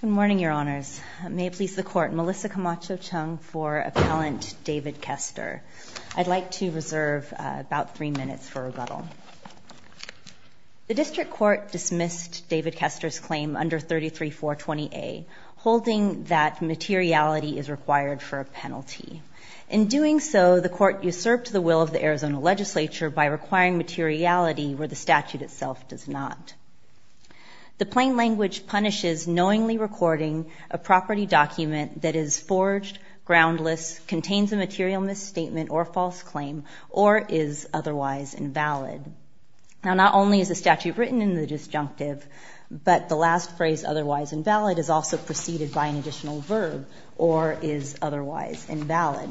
Good morning, Your Honors. May it please the Court, Melissa Camacho-Chung for Appellant David Kester. I'd like to reserve about three minutes for rebuttal. The District Court dismissed David Kester's claim under 33-420A, holding that materiality is required for a penalty. In doing so, the Court usurped the will of the Arizona Legislature by requiring materiality where the statute itself does not. The plain language punishes knowingly recording a property document that is forged, groundless, contains a material misstatement or false claim, or is otherwise invalid. Now, not only is the statute written in the disjunctive, but the last phrase, otherwise invalid, is also preceded by an additional verb, or is otherwise invalid.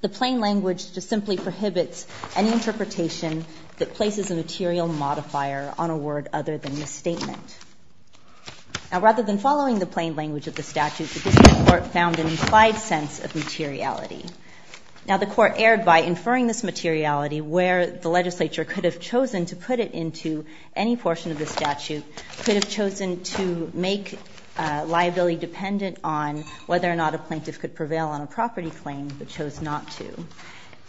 The plain language just simply prohibits any interpretation that places a material modifier on a word other than misstatement. Now, rather than following the plain language of the statute, the District Court found an implied sense of materiality. Now, the Court erred by inferring this materiality where the legislature could have chosen to put it into any portion of the statute, could have chosen to make liability dependent on whether or not a plaintiff could prevail on a property claim, but chose not to.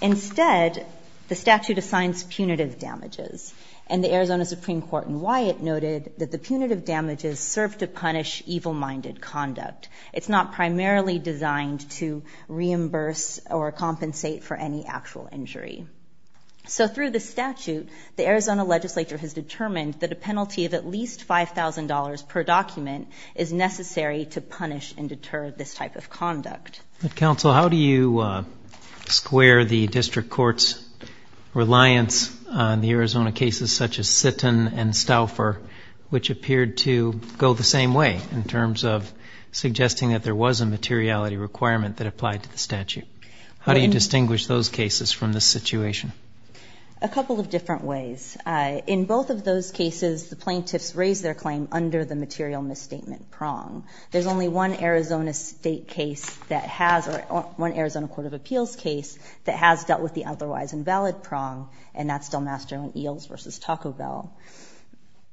Instead, the statute assigns punitive damages. And the Arizona Supreme Court in Wyatt noted that the punitive damages serve to punish evil-minded conduct. It's not primarily designed to reimburse or compensate for any actual injury. So through the statute, the Arizona legislature has determined that a penalty of at least $5,000 per document is necessary to punish and deter this type of conduct. But, Counsel, how do you square the District Court's reliance on the Arizona cases such as Sitton and Stauffer, which appeared to go the same way in terms of suggesting that there was a materiality requirement that applied to the statute? How do you distinguish those cases from this situation? A couple of different ways. In both of those cases, the plaintiffs raised their claim under the material misstatement prong. There's only one Arizona state case that has, or one Arizona Court of Appeals case, that has dealt with the otherwise invalid prong, and that's Del Mastro and Eels v. Taco Bell.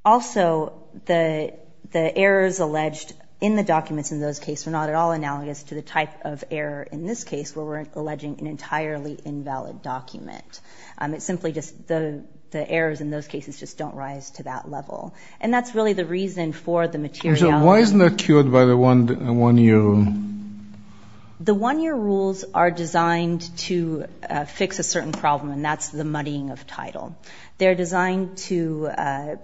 Also, the errors alleged in the documents in those cases are not at all analogous to the type of error in this case, where we're alleging an entirely invalid document. It's simply just the errors in those cases just don't rise to that level. And that's really the reason for the materiality. So why isn't that cured by the one-year rule? The one-year rules are designed to fix a certain problem, and that's the muddying of title. They're designed to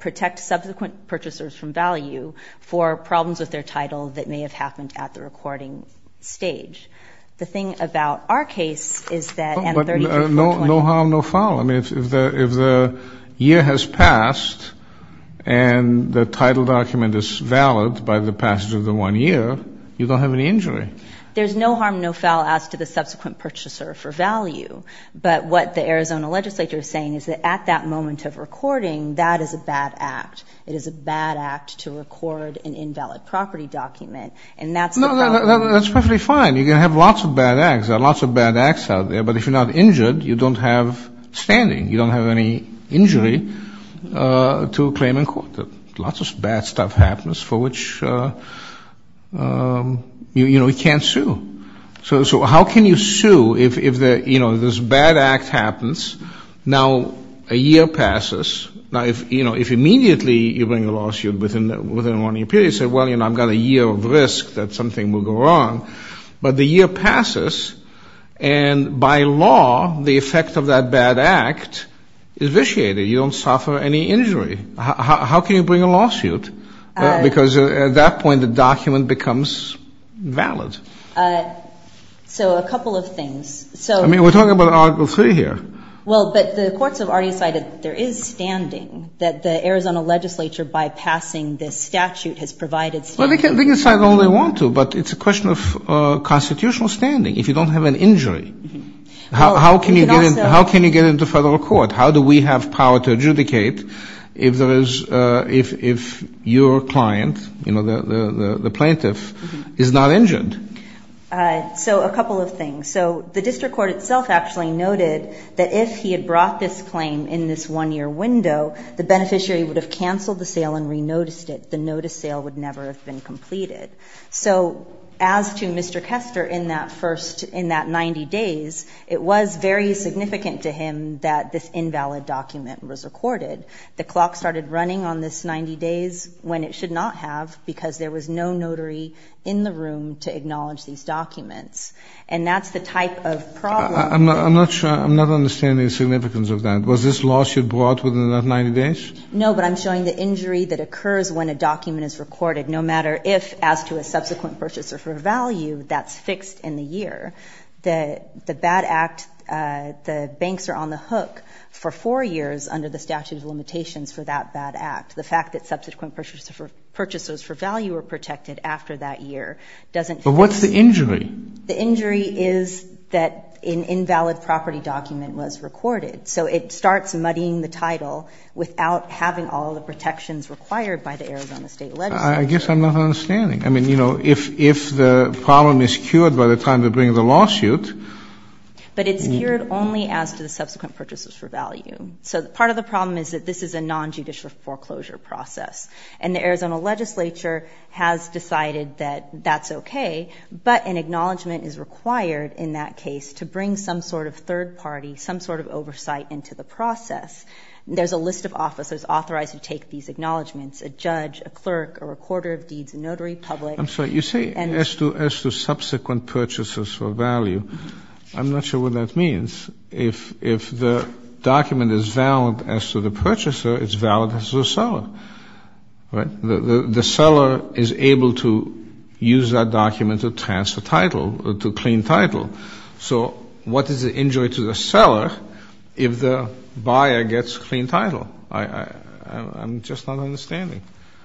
protect subsequent purchasers from value for problems with their title that may have happened at the recording stage. The thing about our case is that at a 33-4-20. No harm, no foul. I mean, if the year has passed and the title document is valid by the passage of the one year, you don't have any injury. There's no harm, no foul as to the subsequent purchaser for value. But what the Arizona legislature is saying is that at that moment of recording, that is a bad act. It is a bad act to record an invalid property document, and that's the problem. No, that's perfectly fine. You can have lots of bad acts. There are lots of bad acts out there. But if you're not injured, you don't have standing. You don't have any injury to a claim in court. Lots of bad stuff happens for which, you know, you can't sue. So how can you sue if, you know, this bad act happens, now a year passes. Now, you know, if immediately you bring a lawsuit within one year period, you say, well, you know, I've got a year of risk that something will go wrong. But the year passes, and by law, the effect of that bad act is vitiated. You don't suffer any injury. How can you bring a lawsuit? Because at that point, the document becomes valid. So a couple of things. I mean, we're talking about Article III here. Well, but the courts have already decided there is standing, that the Arizona legislature, by passing this statute, has provided standing. Well, they can decide all they want to, but it's a question of constitutional standing. If you don't have an injury, how can you get into federal court? How do we have power to adjudicate if your client, you know, the plaintiff, is not injured? So a couple of things. So the district court itself actually noted that if he had brought this claim in this one-year window, the beneficiary would have canceled the sale and renoticed it. The notice sale would never have been completed. So as to Mr. Kester in that first, in that 90 days, it was very significant to him that this invalid document was recorded. The clock started running on this 90 days when it should not have because there was no notary in the room to acknowledge these documents. And that's the type of problem. I'm not sure. I'm not understanding the significance of that. Was this lawsuit brought within that 90 days? No, but I'm showing the injury that occurs when a document is recorded, no matter if, as to a subsequent purchaser for value, that's fixed in the year. The bad act, the banks are on the hook for four years under the statute of limitations for that bad act. The fact that subsequent purchasers for value are protected after that year doesn't fix it. But what's the injury? The injury is that an invalid property document was recorded. So it starts muddying the title without having all the protections required by the Arizona State legislature. I guess I'm not understanding. I mean, you know, if the problem is cured by the time they bring the lawsuit. But it's cured only as to the subsequent purchasers for value. So part of the problem is that this is a nonjudicial foreclosure process. And the Arizona legislature has decided that that's okay. But an acknowledgment is required in that case to bring some sort of third party, some sort of oversight into the process. There's a list of officers authorized to take these acknowledgments, a judge, a clerk, a recorder of deeds, a notary public. I'm sorry. You say as to subsequent purchasers for value. I'm not sure what that means. If the document is valid as to the purchaser, it's valid as to the seller. Right? The seller is able to use that document to transfer title, to clean title. So what is the injury to the seller if the buyer gets clean title? I'm just not understanding.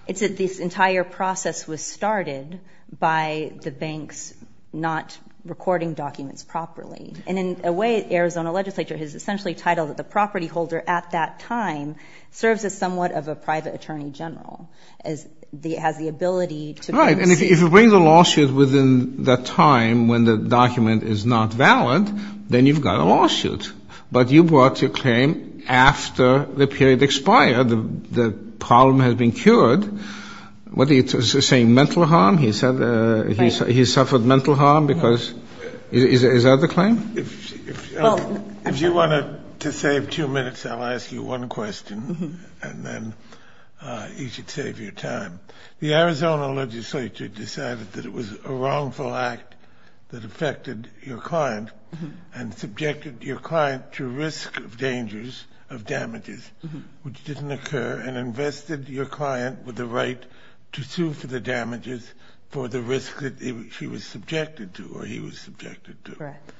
It's that this entire process was started by the banks not recording documents properly. And in a way, the Arizona legislature has essentially titled it the property holder at that time, serves as somewhat of a private attorney general. It has the ability to bring suit. Right. And if you bring the lawsuit within that time when the document is not valid, then you've got a lawsuit. But you brought your claim after the period expired, the problem has been cured. What are you saying, mental harm? He suffered mental harm because of the claim? If you want to save two minutes, I'll ask you one question, and then you should save your time. The Arizona legislature decided that it was a wrongful act that affected your client and subjected your client to risk of dangers of damages, which didn't occur, and invested your client with the right to sue for the damages for the risk that she was subjected to or he was subjected to. Correct.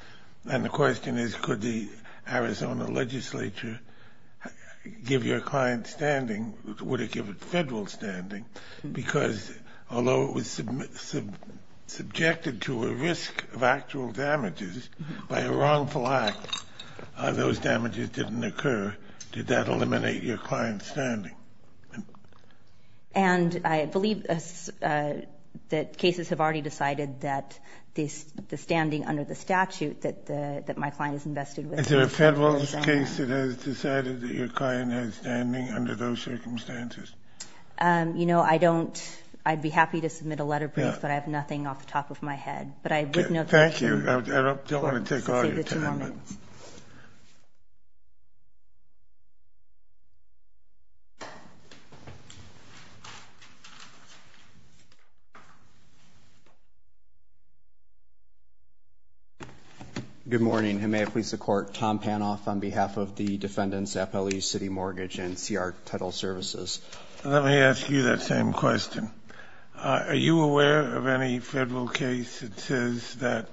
And the question is, could the Arizona legislature give your client standing? Would it give it federal standing? Because although it was subjected to a risk of actual damages by a wrongful act, those damages didn't occur. Did that eliminate your client's standing? And I believe that cases have already decided that the standing under the statute that my client is invested with. Is there a federal case that has decided that your client has standing under those circumstances? You know, I don't. I'd be happy to submit a letter brief, but I have nothing off the top of my head. Thank you. I don't want to take all your time. Any other comments? Good morning. And may I please support Tom Panoff on behalf of the defendants, FLE City Mortgage and CR Title Services. Let me ask you that same question. Are you aware of any federal case that says that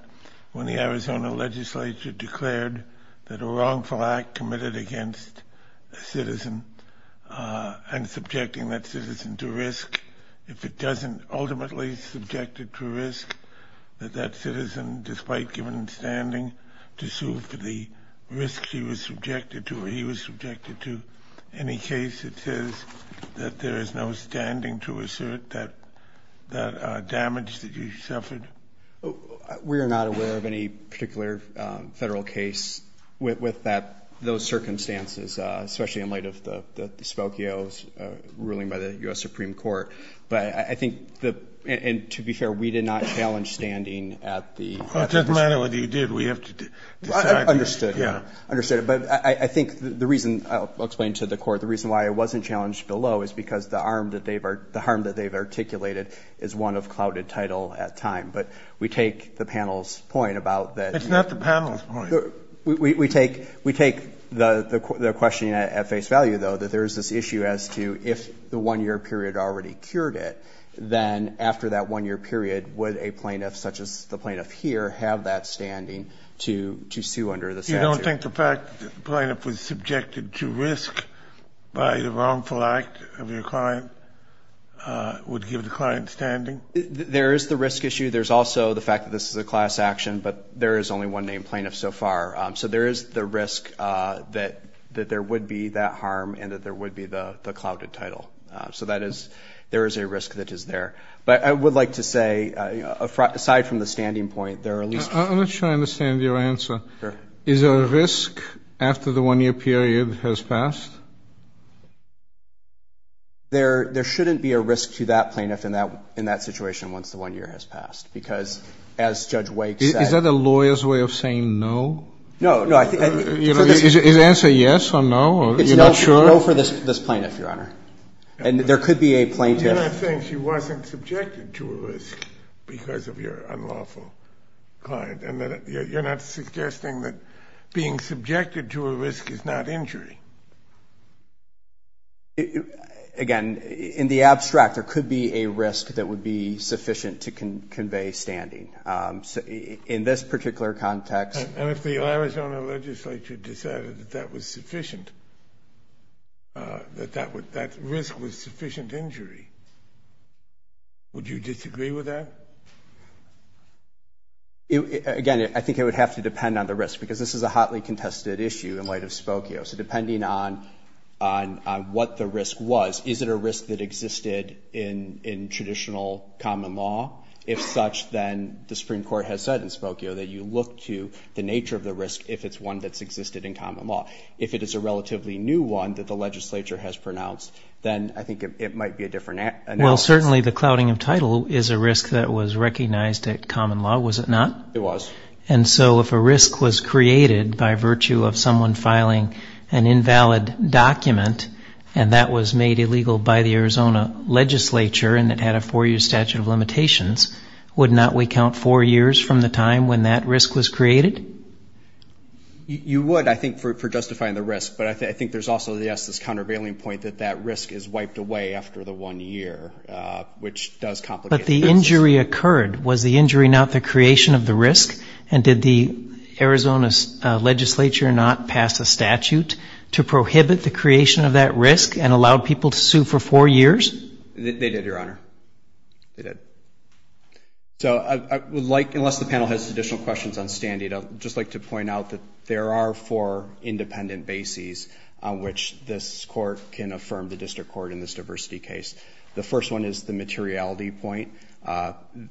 when the Arizona legislature declared that a wrongful act committed against a citizen and subjecting that citizen to risk, if it doesn't ultimately subject it to risk, that that citizen, despite given standing to sue for the risk she was subjected to or he was subjected to, any case that says that there is no standing to assert that damage that you suffered? We are not aware of any particular federal case with that, those circumstances, especially in light of the Spokio's ruling by the U.S. Supreme Court. But I think the – and to be fair, we did not challenge standing at the – Well, it doesn't matter whether you did. We have to decide. Understood. Yeah. Understood. But I think the reason – I'll explain to the Court the reason why it wasn't challenged below is because the harm that they've articulated is one of clouded title at time. But we take the panel's point about that. It's not the panel's point. We take the questioning at face value, though, that there is this issue as to if the 1-year period already cured it, then after that 1-year period, would a plaintiff such as the plaintiff here have that standing to sue under the statute? You don't think the fact that the plaintiff was subjected to risk by the wrongful act of your client would give the client standing? There is the risk issue. There's also the fact that this is a class action, but there is only one named plaintiff so far. So there is the risk that there would be that harm and that there would be the clouded title. So that is – there is a risk that is there. But I would like to say, aside from the standing point, there are at least – I'm not sure I understand your answer. Is there a risk after the 1-year period has passed? There shouldn't be a risk to that plaintiff in that situation once the 1-year has passed, because as Judge Wake said – Is that a lawyer's way of saying no? No. Is the answer yes or no? You're not sure? No for this plaintiff, Your Honor. And there could be a plaintiff – You're not saying she wasn't subjected to a risk because of your unlawful client, and you're not suggesting that being subjected to a risk is not injury? Again, in the abstract, there could be a risk that would be sufficient to convey standing. In this particular context – And if the Arizona legislature decided that that was sufficient, that that risk was sufficient injury, would you disagree with that? Again, I think it would have to depend on the risk, because this is a hotly contested issue in light of Spokio. So depending on what the risk was, is it a risk that existed in traditional common law? If such, then the Supreme Court has said in Spokio that you look to the nature of the risk if it's one that's existed in common law. If it is a relatively new one that the legislature has pronounced, then I think it might be a different analysis. Well, certainly the clouding of title is a risk that was recognized at common law, was it not? It was. And so if a risk was created by virtue of someone filing an invalid document, and that was made illegal by the Arizona legislature, and it had a four-year statute of limitations, would not we count four years from the time when that risk was created? You would, I think, for justifying the risk. But I think there's also, yes, this countervailing point that that risk is But the injury occurred. Was the injury not the creation of the risk? And did the Arizona legislature not pass a statute to prohibit the creation of that risk and allow people to sue for four years? They did, Your Honor. They did. So I would like, unless the panel has additional questions on Stand-Eat, I'd just like to point out that there are four independent bases on which this court can affirm the district court in this diversity case. The first one is the materiality point.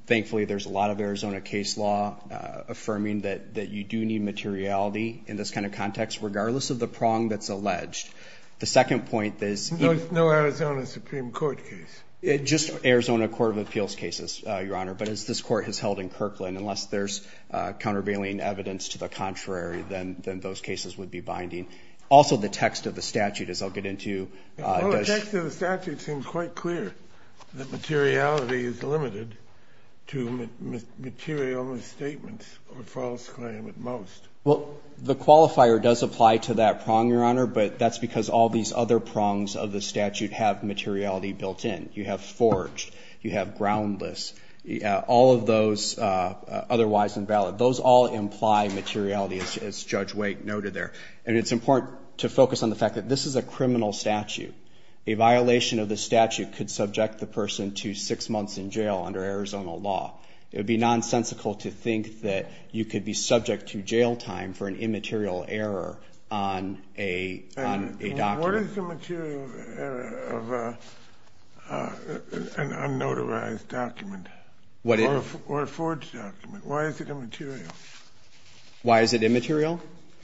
Thankfully, there's a lot of Arizona case law affirming that you do need materiality in this kind of context, regardless of the prong that's alleged. The second point is... No Arizona Supreme Court case. Just Arizona Court of Appeals cases, Your Honor. But as this court has held in Kirkland, unless there's countervailing evidence to the contrary, then those cases would be binding. Also, the text of the statute, as I'll get into... The text of the statute seems quite clear that materiality is limited to material misstatements or false claim at most. Well, the qualifier does apply to that prong, Your Honor, but that's because all these other prongs of the statute have materiality built in. You have forged. You have groundless. All of those otherwise invalid, those all imply materiality, as Judge Waite noted there. And it's important to focus on the fact that this is a criminal statute. A violation of the statute could subject the person to six months in jail under Arizona law. It would be nonsensical to think that you could be subject to jail time for an immaterial error on a document. What is the material error of an unnotarized document or a forged document? Why is it immaterial? Why is it immaterial?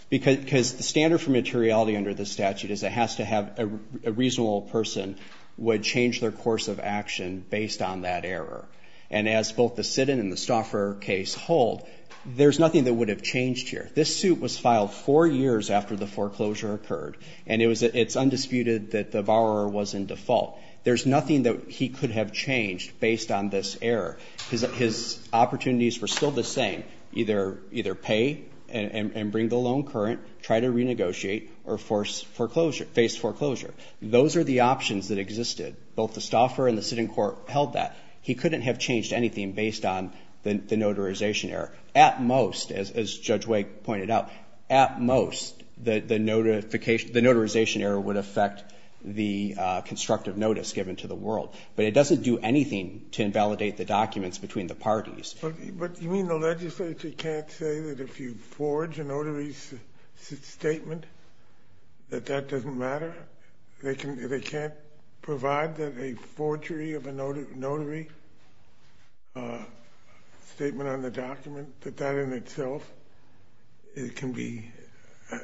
Because the standard for materiality under the statute is it has to have a reasonable person would change their course of action based on that error. And as both the Siddon and the Stauffer case hold, there's nothing that would have changed here. This suit was filed four years after the foreclosure occurred, and it's undisputed that the borrower was in default. There's nothing that he could have changed based on this error because his opportunities were still the same. Either pay and bring the loan current, try to renegotiate, or face foreclosure. Those are the options that existed. Both the Stauffer and the Siddon court held that. He couldn't have changed anything based on the notarization error. At most, as Judge Wake pointed out, at most, the notarization error would affect the constructive notice given to the world. But it doesn't do anything to invalidate the documents between the parties. But you mean the legislature can't say that if you forge a notary's statement that that doesn't matter? They can't provide that a forgery of a notary statement on the document, that that in itself can be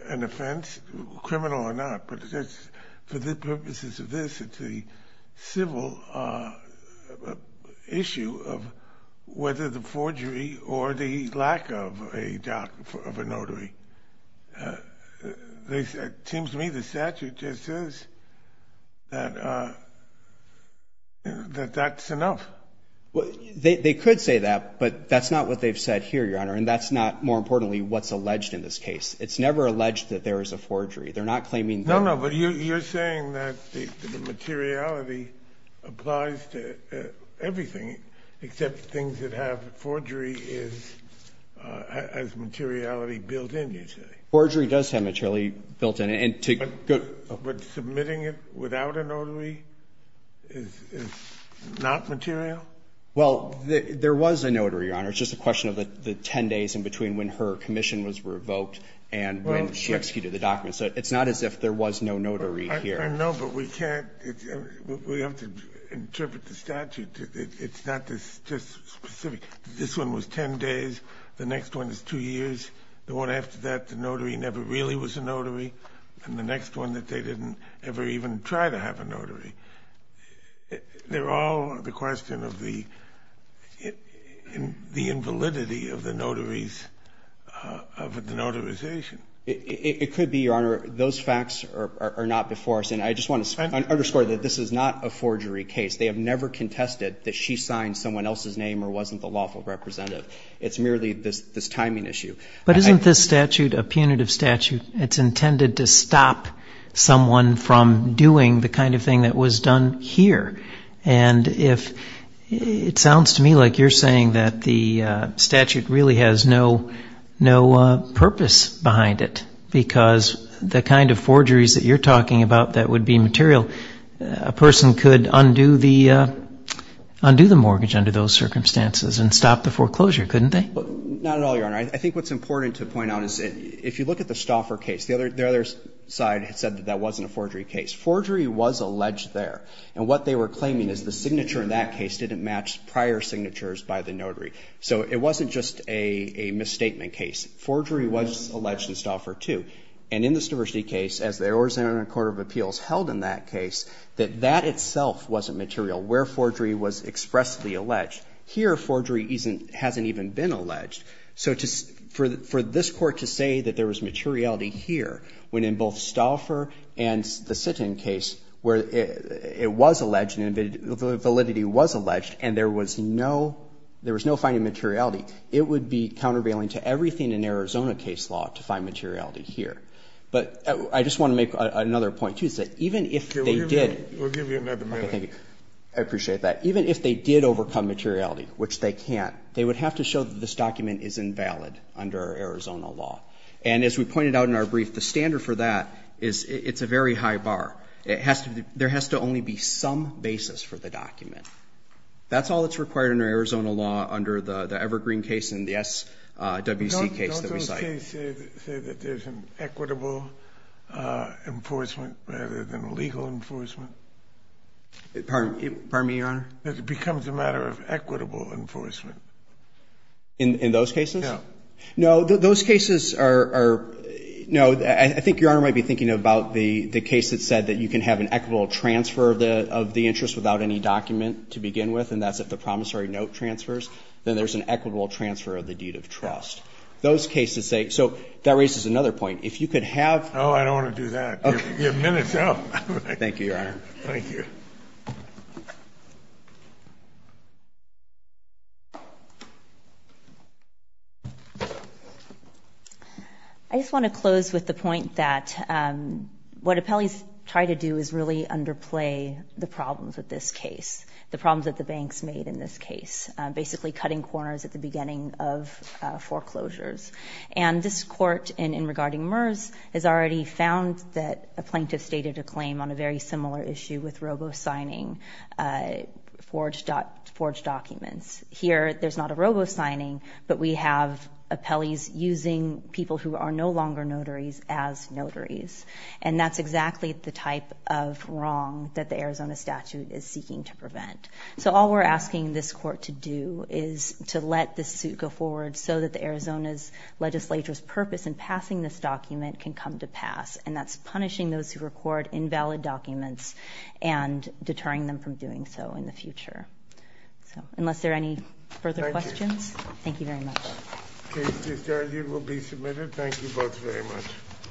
an offense, criminal or not? For the purposes of this, it's a civil issue of whether the forgery or the lack of a notary. It seems to me the statute just says that that's enough. They could say that, but that's not what they've said here, Your Honor, and that's not, more importantly, what's alleged in this case. It's never alleged that there is a forgery. They're not claiming that. No, no, but you're saying that the materiality applies to everything except things that have forgery as materiality built in, you say. Forgery does have materiality built in. But submitting it without a notary is not material? Well, there was a notary, Your Honor. It's just a question of the 10 days in between when her commission was revoked and when she executed the document. So it's not as if there was no notary here. No, but we can't, we have to interpret the statute. It's not just specific. This one was 10 days. The next one is 2 years. The one after that, the notary never really was a notary. And the next one that they didn't ever even try to have a notary. They're all the question of the invalidity of the notary's, of the notarization. It could be, Your Honor. Those facts are not before us. And I just want to underscore that this is not a forgery case. They have never contested that she signed someone else's name or wasn't the lawful representative. It's merely this timing issue. But isn't this statute a punitive statute? It's intended to stop someone from doing the kind of thing that was done here. And it sounds to me like you're saying that the statute really has no purpose behind it. Because the kind of forgeries that you're talking about that would be material, a person could undo the mortgage under those circumstances and stop the foreclosure, couldn't they? Not at all, Your Honor. I think what's important to point out is if you look at the Stauffer case, the other side said that that wasn't a forgery case. Forgery was alleged there. And what they were claiming is the signature in that case didn't match prior signatures by the notary. So it wasn't just a misstatement case. Forgery was alleged in Stauffer, too. And in the Stavrzy case, as the Arizona Court of Appeals held in that case, that that itself wasn't material, where forgery was expressly alleged. Here, forgery hasn't even been alleged. So for this Court to say that there was materiality here, when in both Stauffer and the Sitton case where it was alleged, validity was alleged, and there was no finding materiality, it would be countervailing to everything in Arizona case law to find materiality here. But I just want to make another point, too, is that even if they did. We'll give you another minute. Okay, thank you. I appreciate that. Even if they did overcome materiality, which they can't, they would have to show that this document is invalid under Arizona law. And as we pointed out in our brief, the standard for that is it's a very high bar. There has to only be some basis for the document. That's all that's required under Arizona law under the Evergreen case and the SWC case that we cite. Don't those cases say that there's an equitable enforcement rather than a legal enforcement? Pardon me, Your Honor? That it becomes a matter of equitable enforcement. In those cases? No. No, those cases are no. I think Your Honor might be thinking about the case that said that you can have an equitable transfer of the interest without any document to begin with, and that's if the promissory note transfers. Then there's an equitable transfer of the deed of trust. Those cases say so. That raises another point. If you could have. Oh, I don't want to do that. You have minutes left. Thank you, Your Honor. Thank you. I just want to close with the point that what appellees try to do is really underplay the problems with this case, the problems that the banks made in this case, basically cutting corners at the beginning of foreclosures. And this court in regarding MERS has already found that a plaintiff stated a robo-signing forged documents. Here, there's not a robo-signing, but we have appellees using people who are no longer notaries as notaries. And that's exactly the type of wrong that the Arizona statute is seeking to prevent. So all we're asking this court to do is to let this suit go forward so that the Arizona's legislature's purpose in passing this document can come to pass. And that's punishing those who record invalid documents and deterring them from doing so in the future. So unless there are any further questions. Thank you. Thank you very much. The case is adjourned. It will be submitted. Thank you both very much.